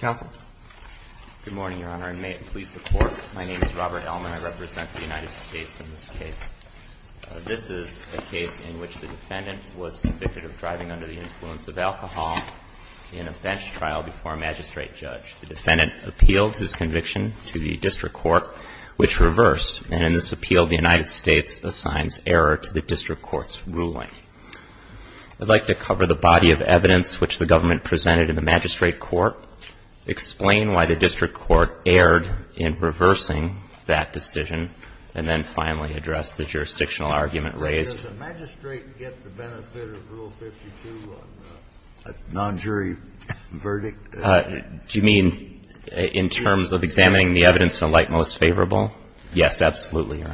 Good morning, Your Honor, and may it please the Court, my name is Robert Elman. I represent the United States in this case. This is a case in which the defendant was convicted of driving under the influence of alcohol in a bench trial before a magistrate judge. The defendant appealed his conviction to the district court, which reversed, and in this appeal the United States assigns error to the district court's ruling. I'd like to explain why the district court erred in reversing that decision, and then finally address the jurisdictional argument raised. Does a magistrate get the benefit of Rule 52 on a non-jury verdict? Do you mean in terms of examining the evidence in a light most favorable? Yes, absolutely, Your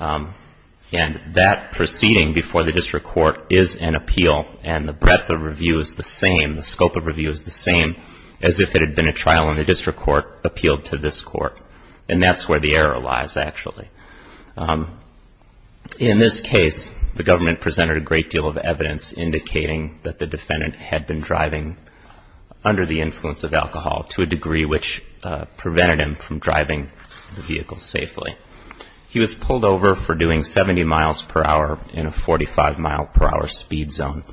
Honor. And that proceeding before the district court is an appeal, and the breadth of review is the same, the scope of review is the same as if it had been a trial and the district court appealed to this court. And that's where the error lies, actually. In this case, the government presented a great deal of evidence indicating that the defendant had been driving under the influence of alcohol to a degree which prevented him from driving the vehicle safely. He was pulled over for doing 70 miles per hour in a 45-mile-per-hour speed zone,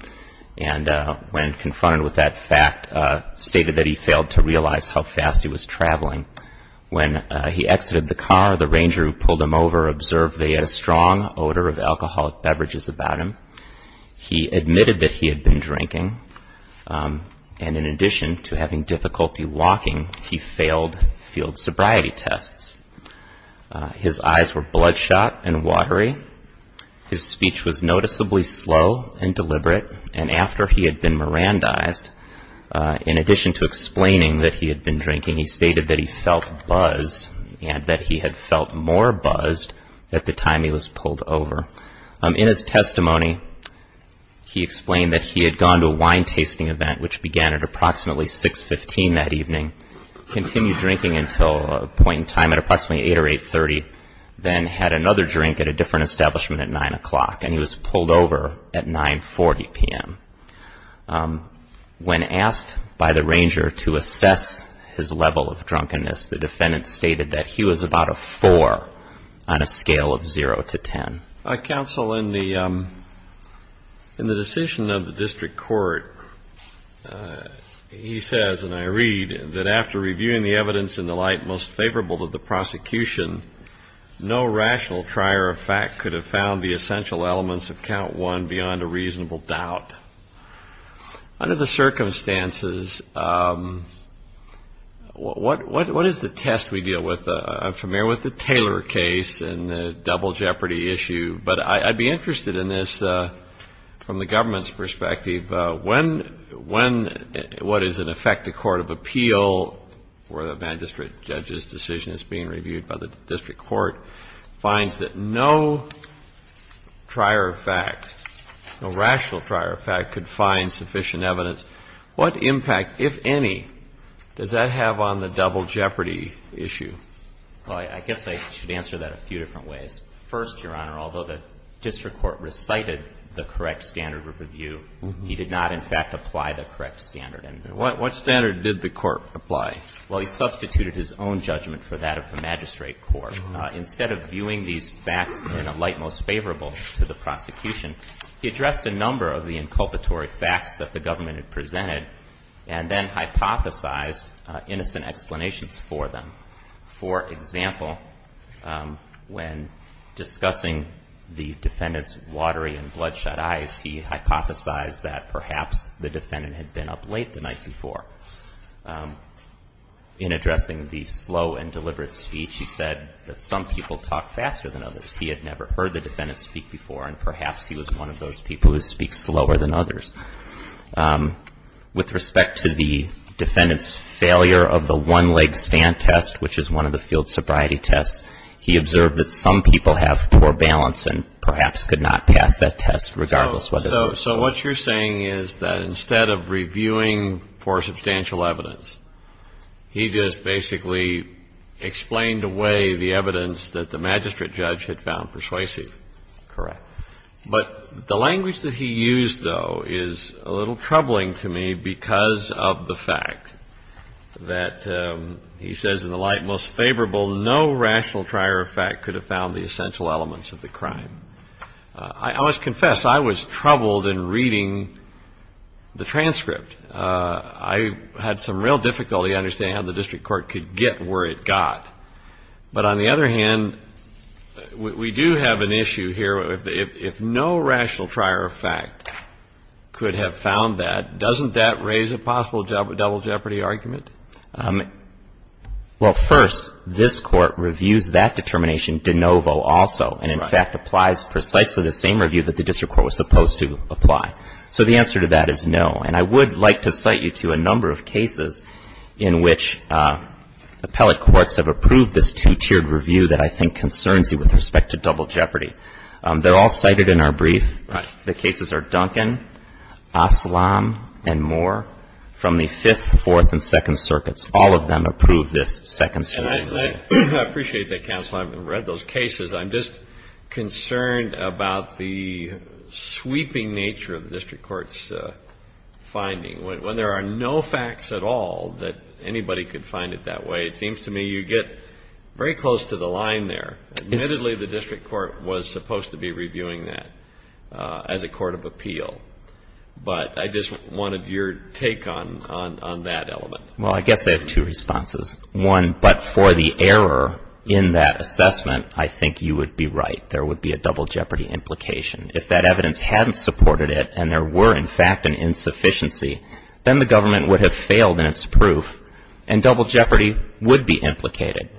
and when confronted with that fact, stated that he failed to realize how fast he was traveling. When he exited the car, the ranger who pulled him over observed that he had a strong odor of alcoholic beverages about him. He admitted that he had been drinking, and in addition to having difficulty walking, he failed field sobriety tests. His eyes were dull and deliberate, and after he had been Mirandized, in addition to explaining that he had been drinking, he stated that he felt buzzed and that he had felt more buzzed at the time he was pulled over. In his testimony, he explained that he had gone to a wine-tasting event, which began at approximately 6.15 that evening, continued drinking until a point in time at approximately 8 or 8.30, then had another drink at a different establishment at 9 o'clock, and he was pulled over at 9.40 p.m. When asked by the ranger to assess his level of drunkenness, the defendant stated that he was about a 4 on a scale of 0 to 10. Counsel, in the decision of the district court, he says, and I read, that after reviewing the evidence in the light most favorable to the prosecution, no rational trier of fact could have found the essential elements of count one beyond a reasonable doubt. Under the circumstances, what is the test we deal with? I'm familiar with the Taylor case and the double jeopardy issue, but I'd be interested in this from the government's perspective. When what is in effect a court of appeal for the magistrate judge's decision is being reviewed by the district court, finds that no trier of fact, no rational trier of fact could find sufficient evidence, what impact, if any, does that have on the double jeopardy issue? Well, I guess I should answer that a few different ways. First, Your Honor, although the district court recited the correct standard of review, he did not, in fact, apply the correct standard. What standard did the court apply? Well, he substituted his own judgment for that of the magistrate court. Instead of viewing these facts in a light most favorable to the prosecution, he addressed a number of the inculpatory facts that the government had presented and then hypothesized innocent explanations for them. For example, when discussing the defendant's watery and bloodshot eyes, he hypothesized that perhaps the defendant had been up late the night before. In addressing the slow and deliberate speech, he said that some people talk faster than others. He had never heard the defendant speak before, and perhaps he was one of those people who speaks slower than others. With respect to the defendant's failure of the one-leg stand test, which is one of the field sobriety tests, he observed that some people have poor balance and perhaps could not pass that test regardless of whether they were sober. So what you're saying is that instead of reviewing for substantial evidence, he just basically explained away the evidence that the magistrate judge had found persuasive. Correct. But the language that he used, though, is a little troubling to me because of the fact that he says in the light most favorable no rational trier of fact could have found the essential elements of the crime. I must confess, I was troubled in reading the transcript. I had some real difficulty understanding how the district court could get where it got. But on the other hand, we do have an issue here. If no rational trier of fact could have found that, doesn't that raise a possible double jeopardy argument? Well, first, this Court reviews that determination de novo also and, in fact, applies precisely the same review that the district court was supposed to apply. So the answer to that is no. And I would like to cite you to a number of cases in which appellate courts have approved this two-tiered review that I think concerns you with respect to double jeopardy. They're all cited in our brief. The cases are Duncan, Aslam and Moore from the Fifth, Fourth and Second Circuits. All of them approve this second tier review. And I appreciate that, counsel. I've read those cases. I'm just concerned about the sweeping nature of the district court's finding. When there are no facts at all that anybody could find it that way, it seems to me you get very close to the line there. Admittedly, the district court was supposed to be reviewing that as a court of appeal. But I just wanted your take on that element. Well, I guess I have two responses. One, but for the error in that assessment, I think you would be right. There would be a double jeopardy implication. If that evidence hadn't supported it and there were, in fact, an insufficiency, then the government would have failed in its proof and double jeopardy would be implicated.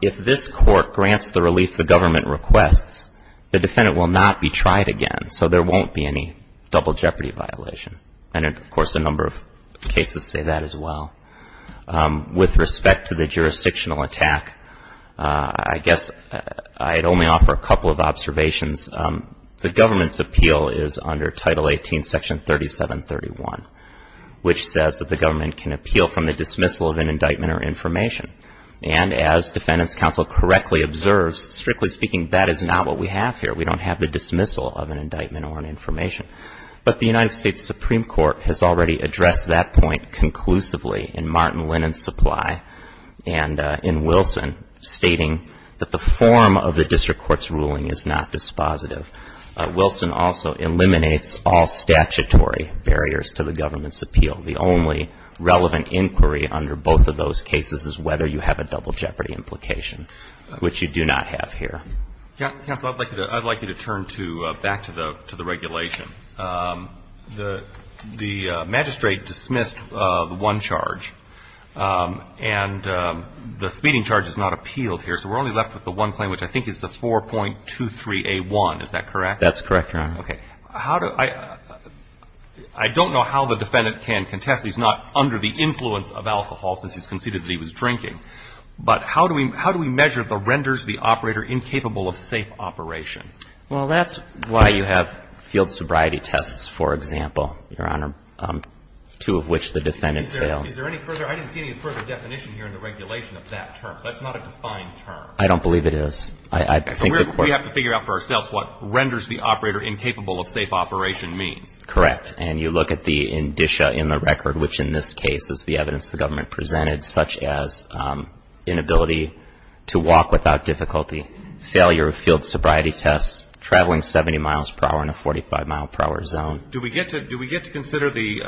If this court grants the relief the government requests, the defendant will not be tried again, so there won't be any double jeopardy violation. And, of course, a number of cases say that as well. With respect to the jurisdictional attack, I guess I'd only offer a couple of observations. The government's appeal is under Title 18, Section 3731, which says that the government can appeal from the dismissal of an indictment or information. And as Defendant's Counsel correctly observes, strictly speaking, that is not what we have here. We don't have the dismissal of an indictment or an information. But the United States Supreme Court has already addressed that point conclusively in Martin Lennon's supply and in Wilson, stating that the form of the district court's ruling is not dispositive. Wilson also eliminates all statutory barriers to the government's appeal. The only relevant inquiry under both of those cases is whether you have a double jeopardy implication, which you do not have here. Counsel, I'd like you to turn back to the regulation. The magistrate dismissed the one charge, and the speeding charge is not appealed here, so we're only left with the one claim, which I think is the 4.23a1. Is that correct? That's correct, Your Honor. Okay. How do I – I don't know how the defendant can contest. He's not under the influence of alcohol since he's conceded that he was drinking. But how do we measure the renders the operator incapable of safe operation? Well, that's why you have field sobriety tests, for example, Your Honor, two of which the defendant failed. Is there any further – I didn't see any further definition here in the regulation of that term. That's not a defined term. I don't believe it is. We have to figure out for ourselves what renders the operator incapable of safe operation means. Correct. And you look at the indicia in the record, which in this case is the evidence the government presented, such as inability to walk without difficulty, failure of field sobriety tests, traveling 70 miles per hour in a 45-mile-per-hour zone. Do we get to consider the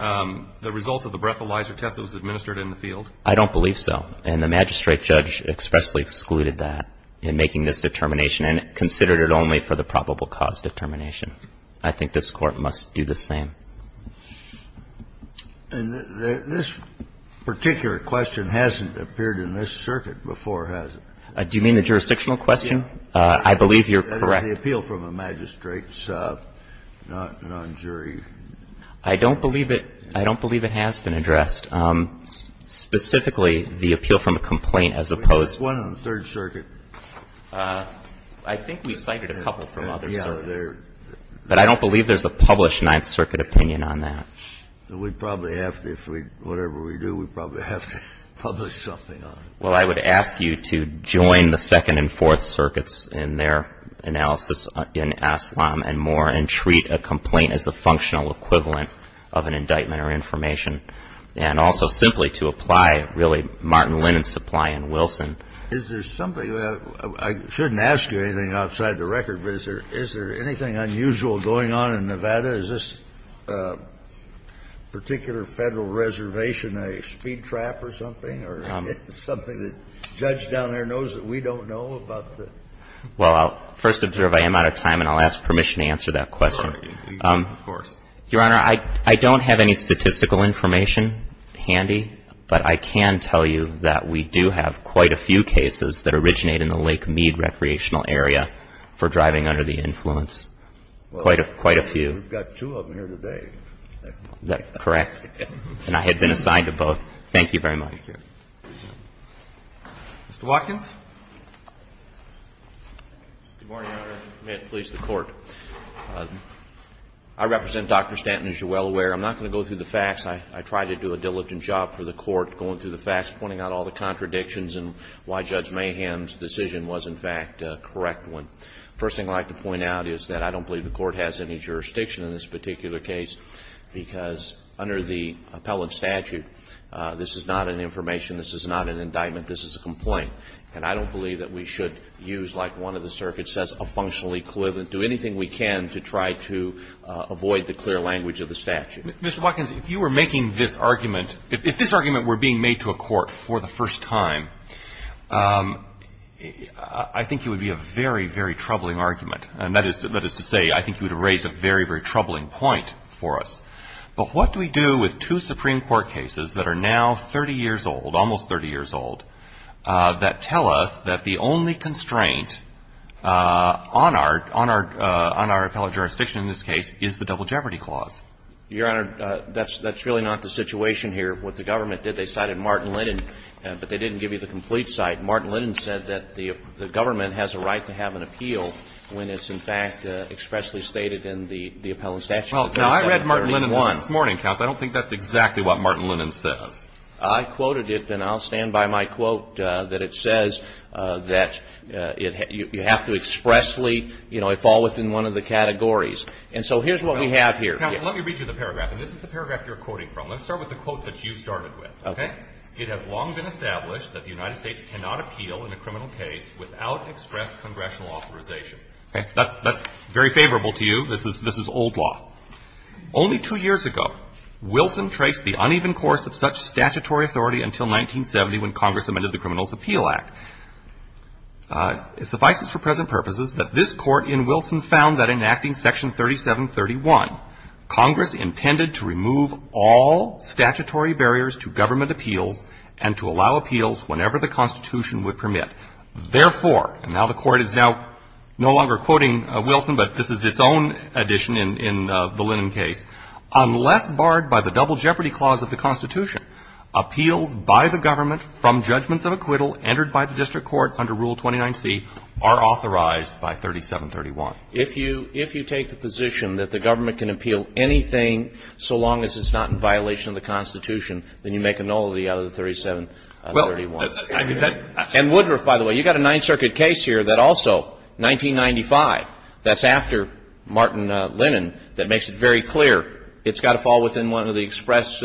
results of the breathalyzer test that was administered in the field? I don't believe so. And the magistrate judge expressly excluded that in making this determination and considered it only for the probable cause determination. I think this Court must do the same. And this particular question hasn't appeared in this circuit before, has it? Do you mean the jurisdictional question? Yes. I believe you're correct. That is the appeal from a magistrate's non-jury. I don't believe it – I don't believe it has been addressed. Specifically, the appeal from a complaint as opposed to – There's one on the Third Circuit. I think we cited a couple from other circuits. But I don't believe there's a published Ninth Circuit opinion on that. We probably have to if we – whatever we do, we probably have to publish something on it. Well, I would ask you to join the Second and Fourth Circuits in their analysis in Aslam and Moore and treat a complaint as a functional equivalent of an indictment And also simply to apply, really, Martin Lennon's supply in Wilson. Is there something – I shouldn't ask you anything outside the record, but is there anything unusual going on in Nevada? Is this particular Federal reservation a speed trap or something or something that the judge down there knows that we don't know about the – Well, first observe I am out of time and I'll ask permission to answer that question. Of course. Your Honor, I don't have any statistical information handy, but I can tell you that we do have quite a few cases that originate in the Lake Mead Recreational Area for driving under the influence. Quite a few. We've got two of them here today. That's correct. And I had been assigned to both. Thank you very much. Thank you. Mr. Watkins. Good morning, Your Honor. May it please the Court. I represent Dr. Stanton, as you're well aware. I'm not going to go through the facts. I try to do a diligent job for the Court going through the facts, pointing out all the contradictions and why Judge Mayhem's decision was, in fact, a correct one. First thing I'd like to point out is that I don't believe the Court has any jurisdiction in this particular case, because under the appellate statute, this is not an information, this is not an indictment, this is a complaint. And I don't believe that we should use, like one of the circuits says, a functional equivalent, do anything we can to try to avoid the clear language of the statute. Mr. Watkins, if you were making this argument, if this argument were being made to a court for the first time, I think it would be a very, very troubling argument. And that is to say, I think you would have raised a very, very troubling point for us. But what do we do with two Supreme Court cases that are now 30 years old, almost 30 years old, that tell us that the only constraint on our appellate jurisdiction in this case is the Double Jeopardy Clause? Your Honor, that's really not the situation here. What the government did, they cited Martin Linnan, but they didn't give you the complete cite. Martin Linnan said that the government has a right to have an appeal when it's, in fact, expressly stated in the appellate statute. Well, I read Martin Linnan this morning, counsel. I don't think that's exactly what Martin Linnan says. I quoted it, and I'll stand by my quote, that it says that you have to expressly you know, fall within one of the categories. And so here's what we have here. Counsel, let me read you the paragraph. And this is the paragraph you're quoting from. Let's start with the quote that you started with, okay? Okay. It has long been established that the United States cannot appeal in a criminal case without express congressional authorization. That's very favorable to you. This is old law. Only two years ago, Wilson traced the uneven course of such statutory authority until 1970 when Congress amended the Criminals' Appeal Act. It suffices for present purposes that this Court in Wilson found that in acting Section 3731, Congress intended to remove all statutory barriers to government appeals and to allow appeals whenever the Constitution would permit. Therefore, and now the Court is now no longer quoting Wilson, but this is its own addition in the Lennon case, unless barred by the double jeopardy clause of the Constitution, appeals by the government from judgments of acquittal entered by the district court under Rule 29C are authorized by 3731. If you take the position that the government can appeal anything so long as it's not in violation of the Constitution, then you make a nullity out of the 3731. And Woodruff, by the way, you've got a Ninth Circuit case here that also 1995, that's after Martin Lennon, that makes it very clear it's got to fall within one of the express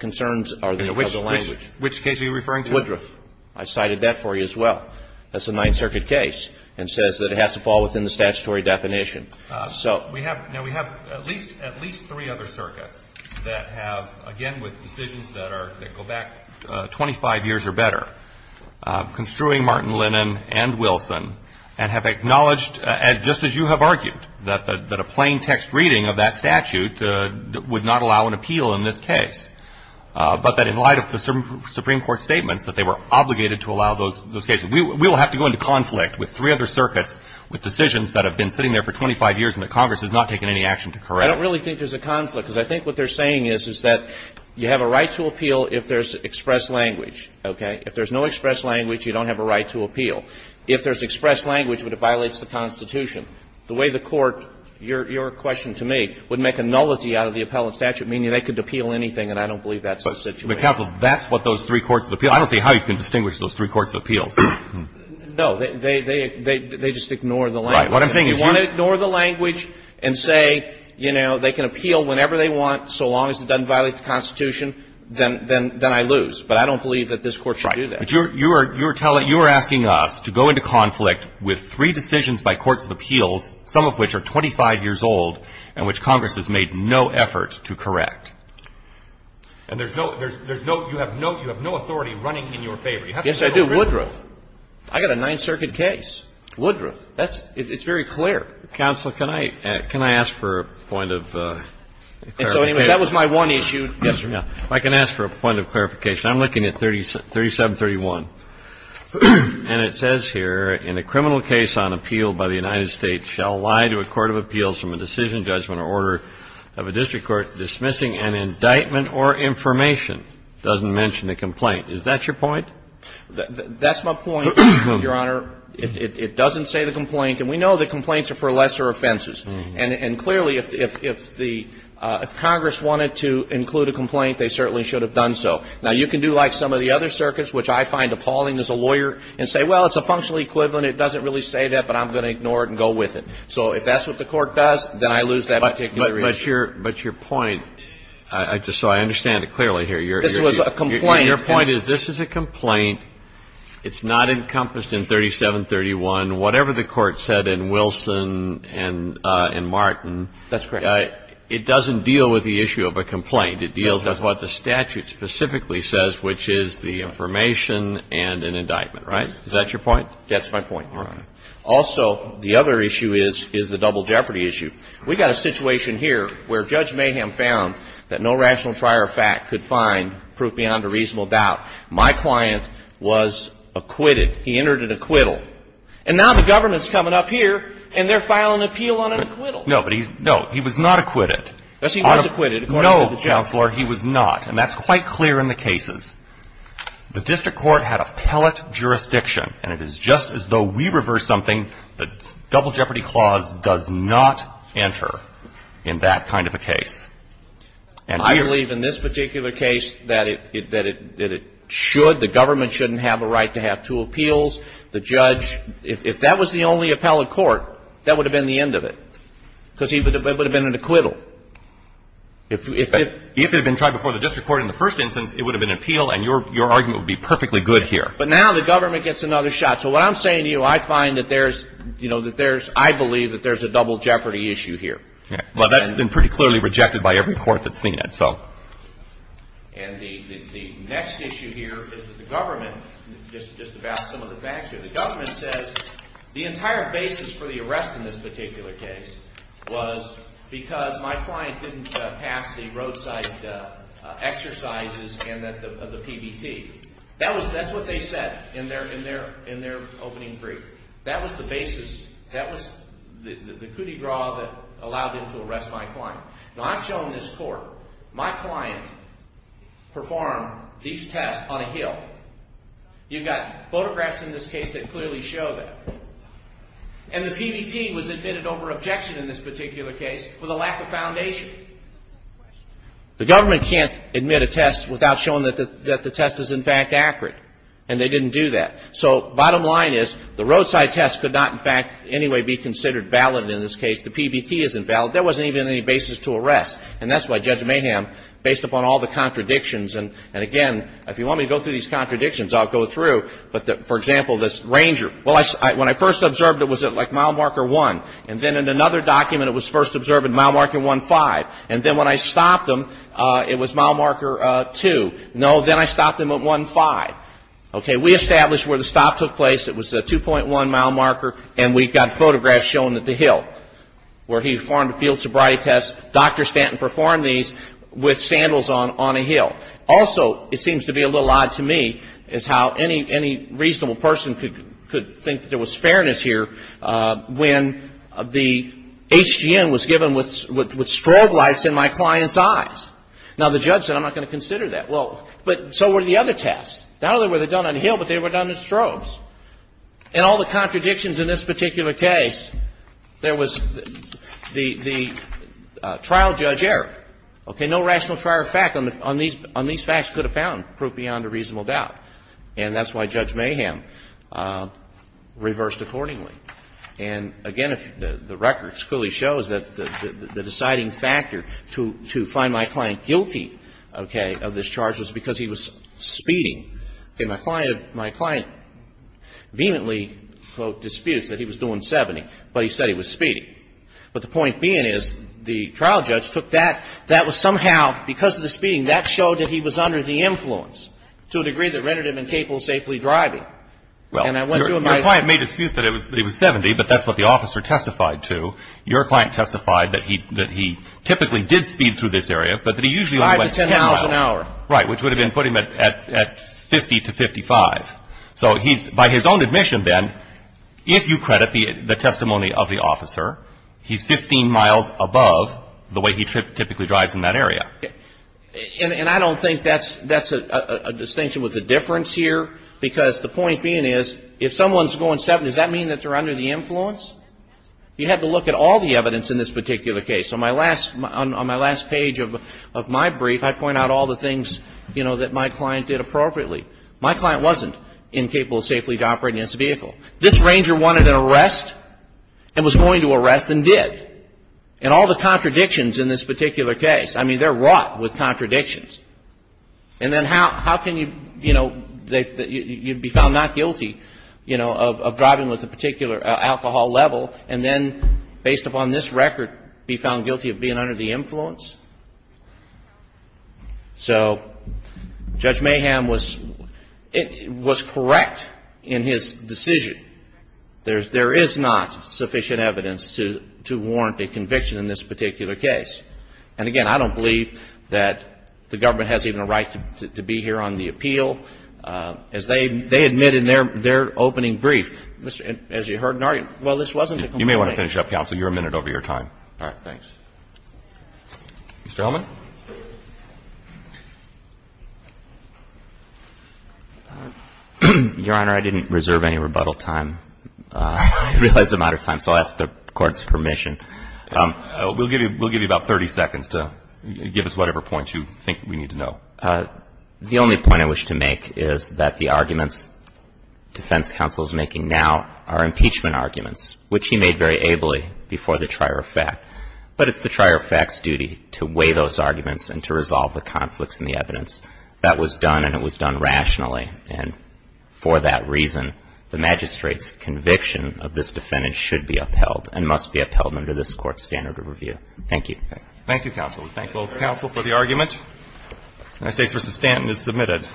concerns of the language. Which case are you referring to? Woodruff. I cited that for you as well. That's a Ninth Circuit case and says that it has to fall within the statutory definition. So we have at least three other circuits that have, again, with decisions that go back 25 years or better, construing Martin Lennon and Wilson, and have acknowledged just as you have argued, that a plain text reading of that statute would not allow an appeal in this case, but that in light of the Supreme Court statements that they were obligated to allow those cases. We will have to go into conflict with three other circuits with decisions that have been sitting there for 25 years and that Congress has not taken any action to correct. I don't really think there's a conflict, because I think what they're saying is, is that you have a right to appeal if there's express language, okay? If you have a right to appeal, if there's express language, but it violates the Constitution, the way the Court, your question to me, would make a nullity out of the appellant statute, meaning they could appeal anything, and I don't believe that's the situation. But, counsel, that's what those three courts appeal. I don't see how you can distinguish those three courts' appeals. No. They just ignore the language. Right. What I'm saying is you want to ignore the language and say, you know, they can appeal whenever they want so long as it doesn't violate the Constitution, then I lose. But I don't believe that this Court should do that. But you're telling, you're asking us to go into conflict with three decisions by courts of appeals, some of which are 25 years old and which Congress has made no effort to correct. And there's no, there's no, you have no, you have no authority running in your favor. Yes, I do. Woodruff. I got a Ninth Circuit case. Woodruff. That's, it's very clear. Counsel, can I, can I ask for a point of clarification? And so anyway, that was my one issue. Yes, sir. If I can ask for a point of clarification. I'm looking at 3731. And it says here, in a criminal case on appeal by the United States shall lie to a court of appeals from a decision, judgment or order of a district court dismissing an indictment or information. It doesn't mention the complaint. Is that your point? That's my point, Your Honor. It doesn't say the complaint. And we know that complaints are for lesser offenses. And clearly, if the, if Congress wanted to include a complaint, they certainly should have done so. Now, you can do like some of the other circuits, which I find appalling as a lawyer and say, well, it's a functional equivalent. It doesn't really say that, but I'm going to ignore it and go with it. So if that's what the Court does, then I lose that particular issue. But your, but your point, so I understand it clearly here. This was a complaint. Your point is this is a complaint. It's not encompassed in 3731. Whatever the Court said in Wilson and Martin. That's correct. It doesn't deal with the issue of a complaint. It deals with what the statute specifically says, which is the information and an indictment, right? Is that your point? That's my point, Your Honor. Also, the other issue is, is the double jeopardy issue. We got a situation here where Judge Mayhem found that no rational prior fact could find proof beyond a reasonable doubt. My client was acquitted. He entered an acquittal. And now the government's coming up here, and they're filing an appeal on an acquittal. No, but he's, no, he was not acquitted. Yes, he was acquitted, according to the judge. No, Counselor, he was not. And that's quite clear in the cases. The district court had appellate jurisdiction. And it is just as though we reversed something. The double jeopardy clause does not enter in that kind of a case. I believe in this particular case that it, that it should, the government shouldn't have a right to have two appeals. The judge, if that was the only appellate court, that would have been the end of it, because it would have been an acquittal. If it had been tried before the district court in the first instance, it would have been an appeal, and your argument would be perfectly good here. But now the government gets another shot. So what I'm saying to you, I find that there's, you know, that there's, I believe that there's a double jeopardy issue here. Well, that's been pretty clearly rejected by every court that's seen it, so. And the next issue here is that the government, just about some of the facts here, the government says the entire basis for the arrest in this particular case was because my client didn't pass the roadside exercises and the PBT. That was, that's what they said in their, in their, in their opening brief. That was the basis, that was the cootie bra that allowed them to arrest my client. Now, I've shown this court, my client performed these tests on a hill. You've got photographs in this case that clearly show that. And the PBT was admitted over objection in this particular case for the lack of foundation. The government can't admit a test without showing that the test is, in fact, accurate. And they didn't do that. So bottom line is, the roadside test could not, in fact, in any way be considered valid in this case. The PBT isn't valid. There wasn't even any basis to arrest. And that's why Judge Mayhem, based upon all the contradictions, and again, if you want me to go through these contradictions, I'll go through. But for example, this ranger. Well, when I first observed it, was it like mile marker one? And then in another document, it was first observed at mile marker one five. And then when I stopped him, it was mile marker two. No, then I stopped him at one five. Okay, we established where the stop took place. It was at 2.1 mile marker. And we got photographs shown at the hill where he performed a field sobriety test. Dr. Stanton performed these with sandals on a hill. Also, it seems to be a little odd to me is how any reasonable person could think that there was fairness here when the HGN was given with strobe lights in my client's eyes. Now, the judge said, I'm not going to consider that. Well, but so were the other tests. Not only were they done on a hill, but they were done in strobes. And all the contradictions in this particular case, there was the trial judge error. Okay, no rational trial fact on these facts could have found proof beyond a reasonable doubt. And that's why Judge Mayhem reversed accordingly. And again, the record clearly shows that the deciding factor to find my client guilty of this charge was because he was speeding. Okay, my client vehemently, quote, disputes that he was doing 70, but he said he was speeding. But the point being is the trial judge took that. That was somehow, because of the speeding, that showed that he was under the influence to a degree that rendered him incapable of safely driving. And I went to him. Well, your client may dispute that he was 70, but that's what the officer testified to. Your client testified that he typically did speed through this area, but that he usually only went 10 miles. Five to 10 miles an hour. Right, which would have been putting him at 50 to 55. So he's, by his own admission then, if you credit the testimony of the officer, he's 15 miles above the way he typically drives in that area. And I don't think that's a distinction with a difference here, because the point being is if someone's going 70, does that mean that they're under the influence? You have to look at all the evidence in this particular case. On my last page of my brief, I point out all the things, you know, that my client did appropriately. My client wasn't incapable of safely operating this vehicle. This ranger wanted an arrest and was going to arrest and did. And all the contradictions in this particular case, I mean, they're wrought with contradictions. And then how can you, you know, you'd be found not guilty, you know, of driving with a particular alcohol level, and then based upon this record, be found guilty of being under the influence? So Judge Mayhem was correct in his decision. There is not sufficient evidence to warrant a conviction in this particular case. And again, I don't believe that the government has even a right to be here on the appeal. As they admit in their opening brief, as you heard, Nargi, well, this wasn't a complaint. You may want to finish up, counsel. You're a minute over your time. All right. Thanks. Mr. Hellman. Your Honor, I didn't reserve any rebuttal time. I realize the amount of time, so I'll ask the Court's permission. We'll give you about 30 seconds to give us whatever points you think we need to know. The only point I wish to make is that the arguments defense counsel is making now are impeachment arguments, which he made very ably before the trier of fact. But it's the trier of fact's duty to weigh those arguments and to resolve the conflicts in the evidence. That was done, and it was done rationally. And for that reason, the magistrate's conviction of this defendant should be upheld and must be upheld under this Court's standard of review. Thank you. Thank you, counsel. We thank both counsel for the argument. The United States v. Stanton is submitted.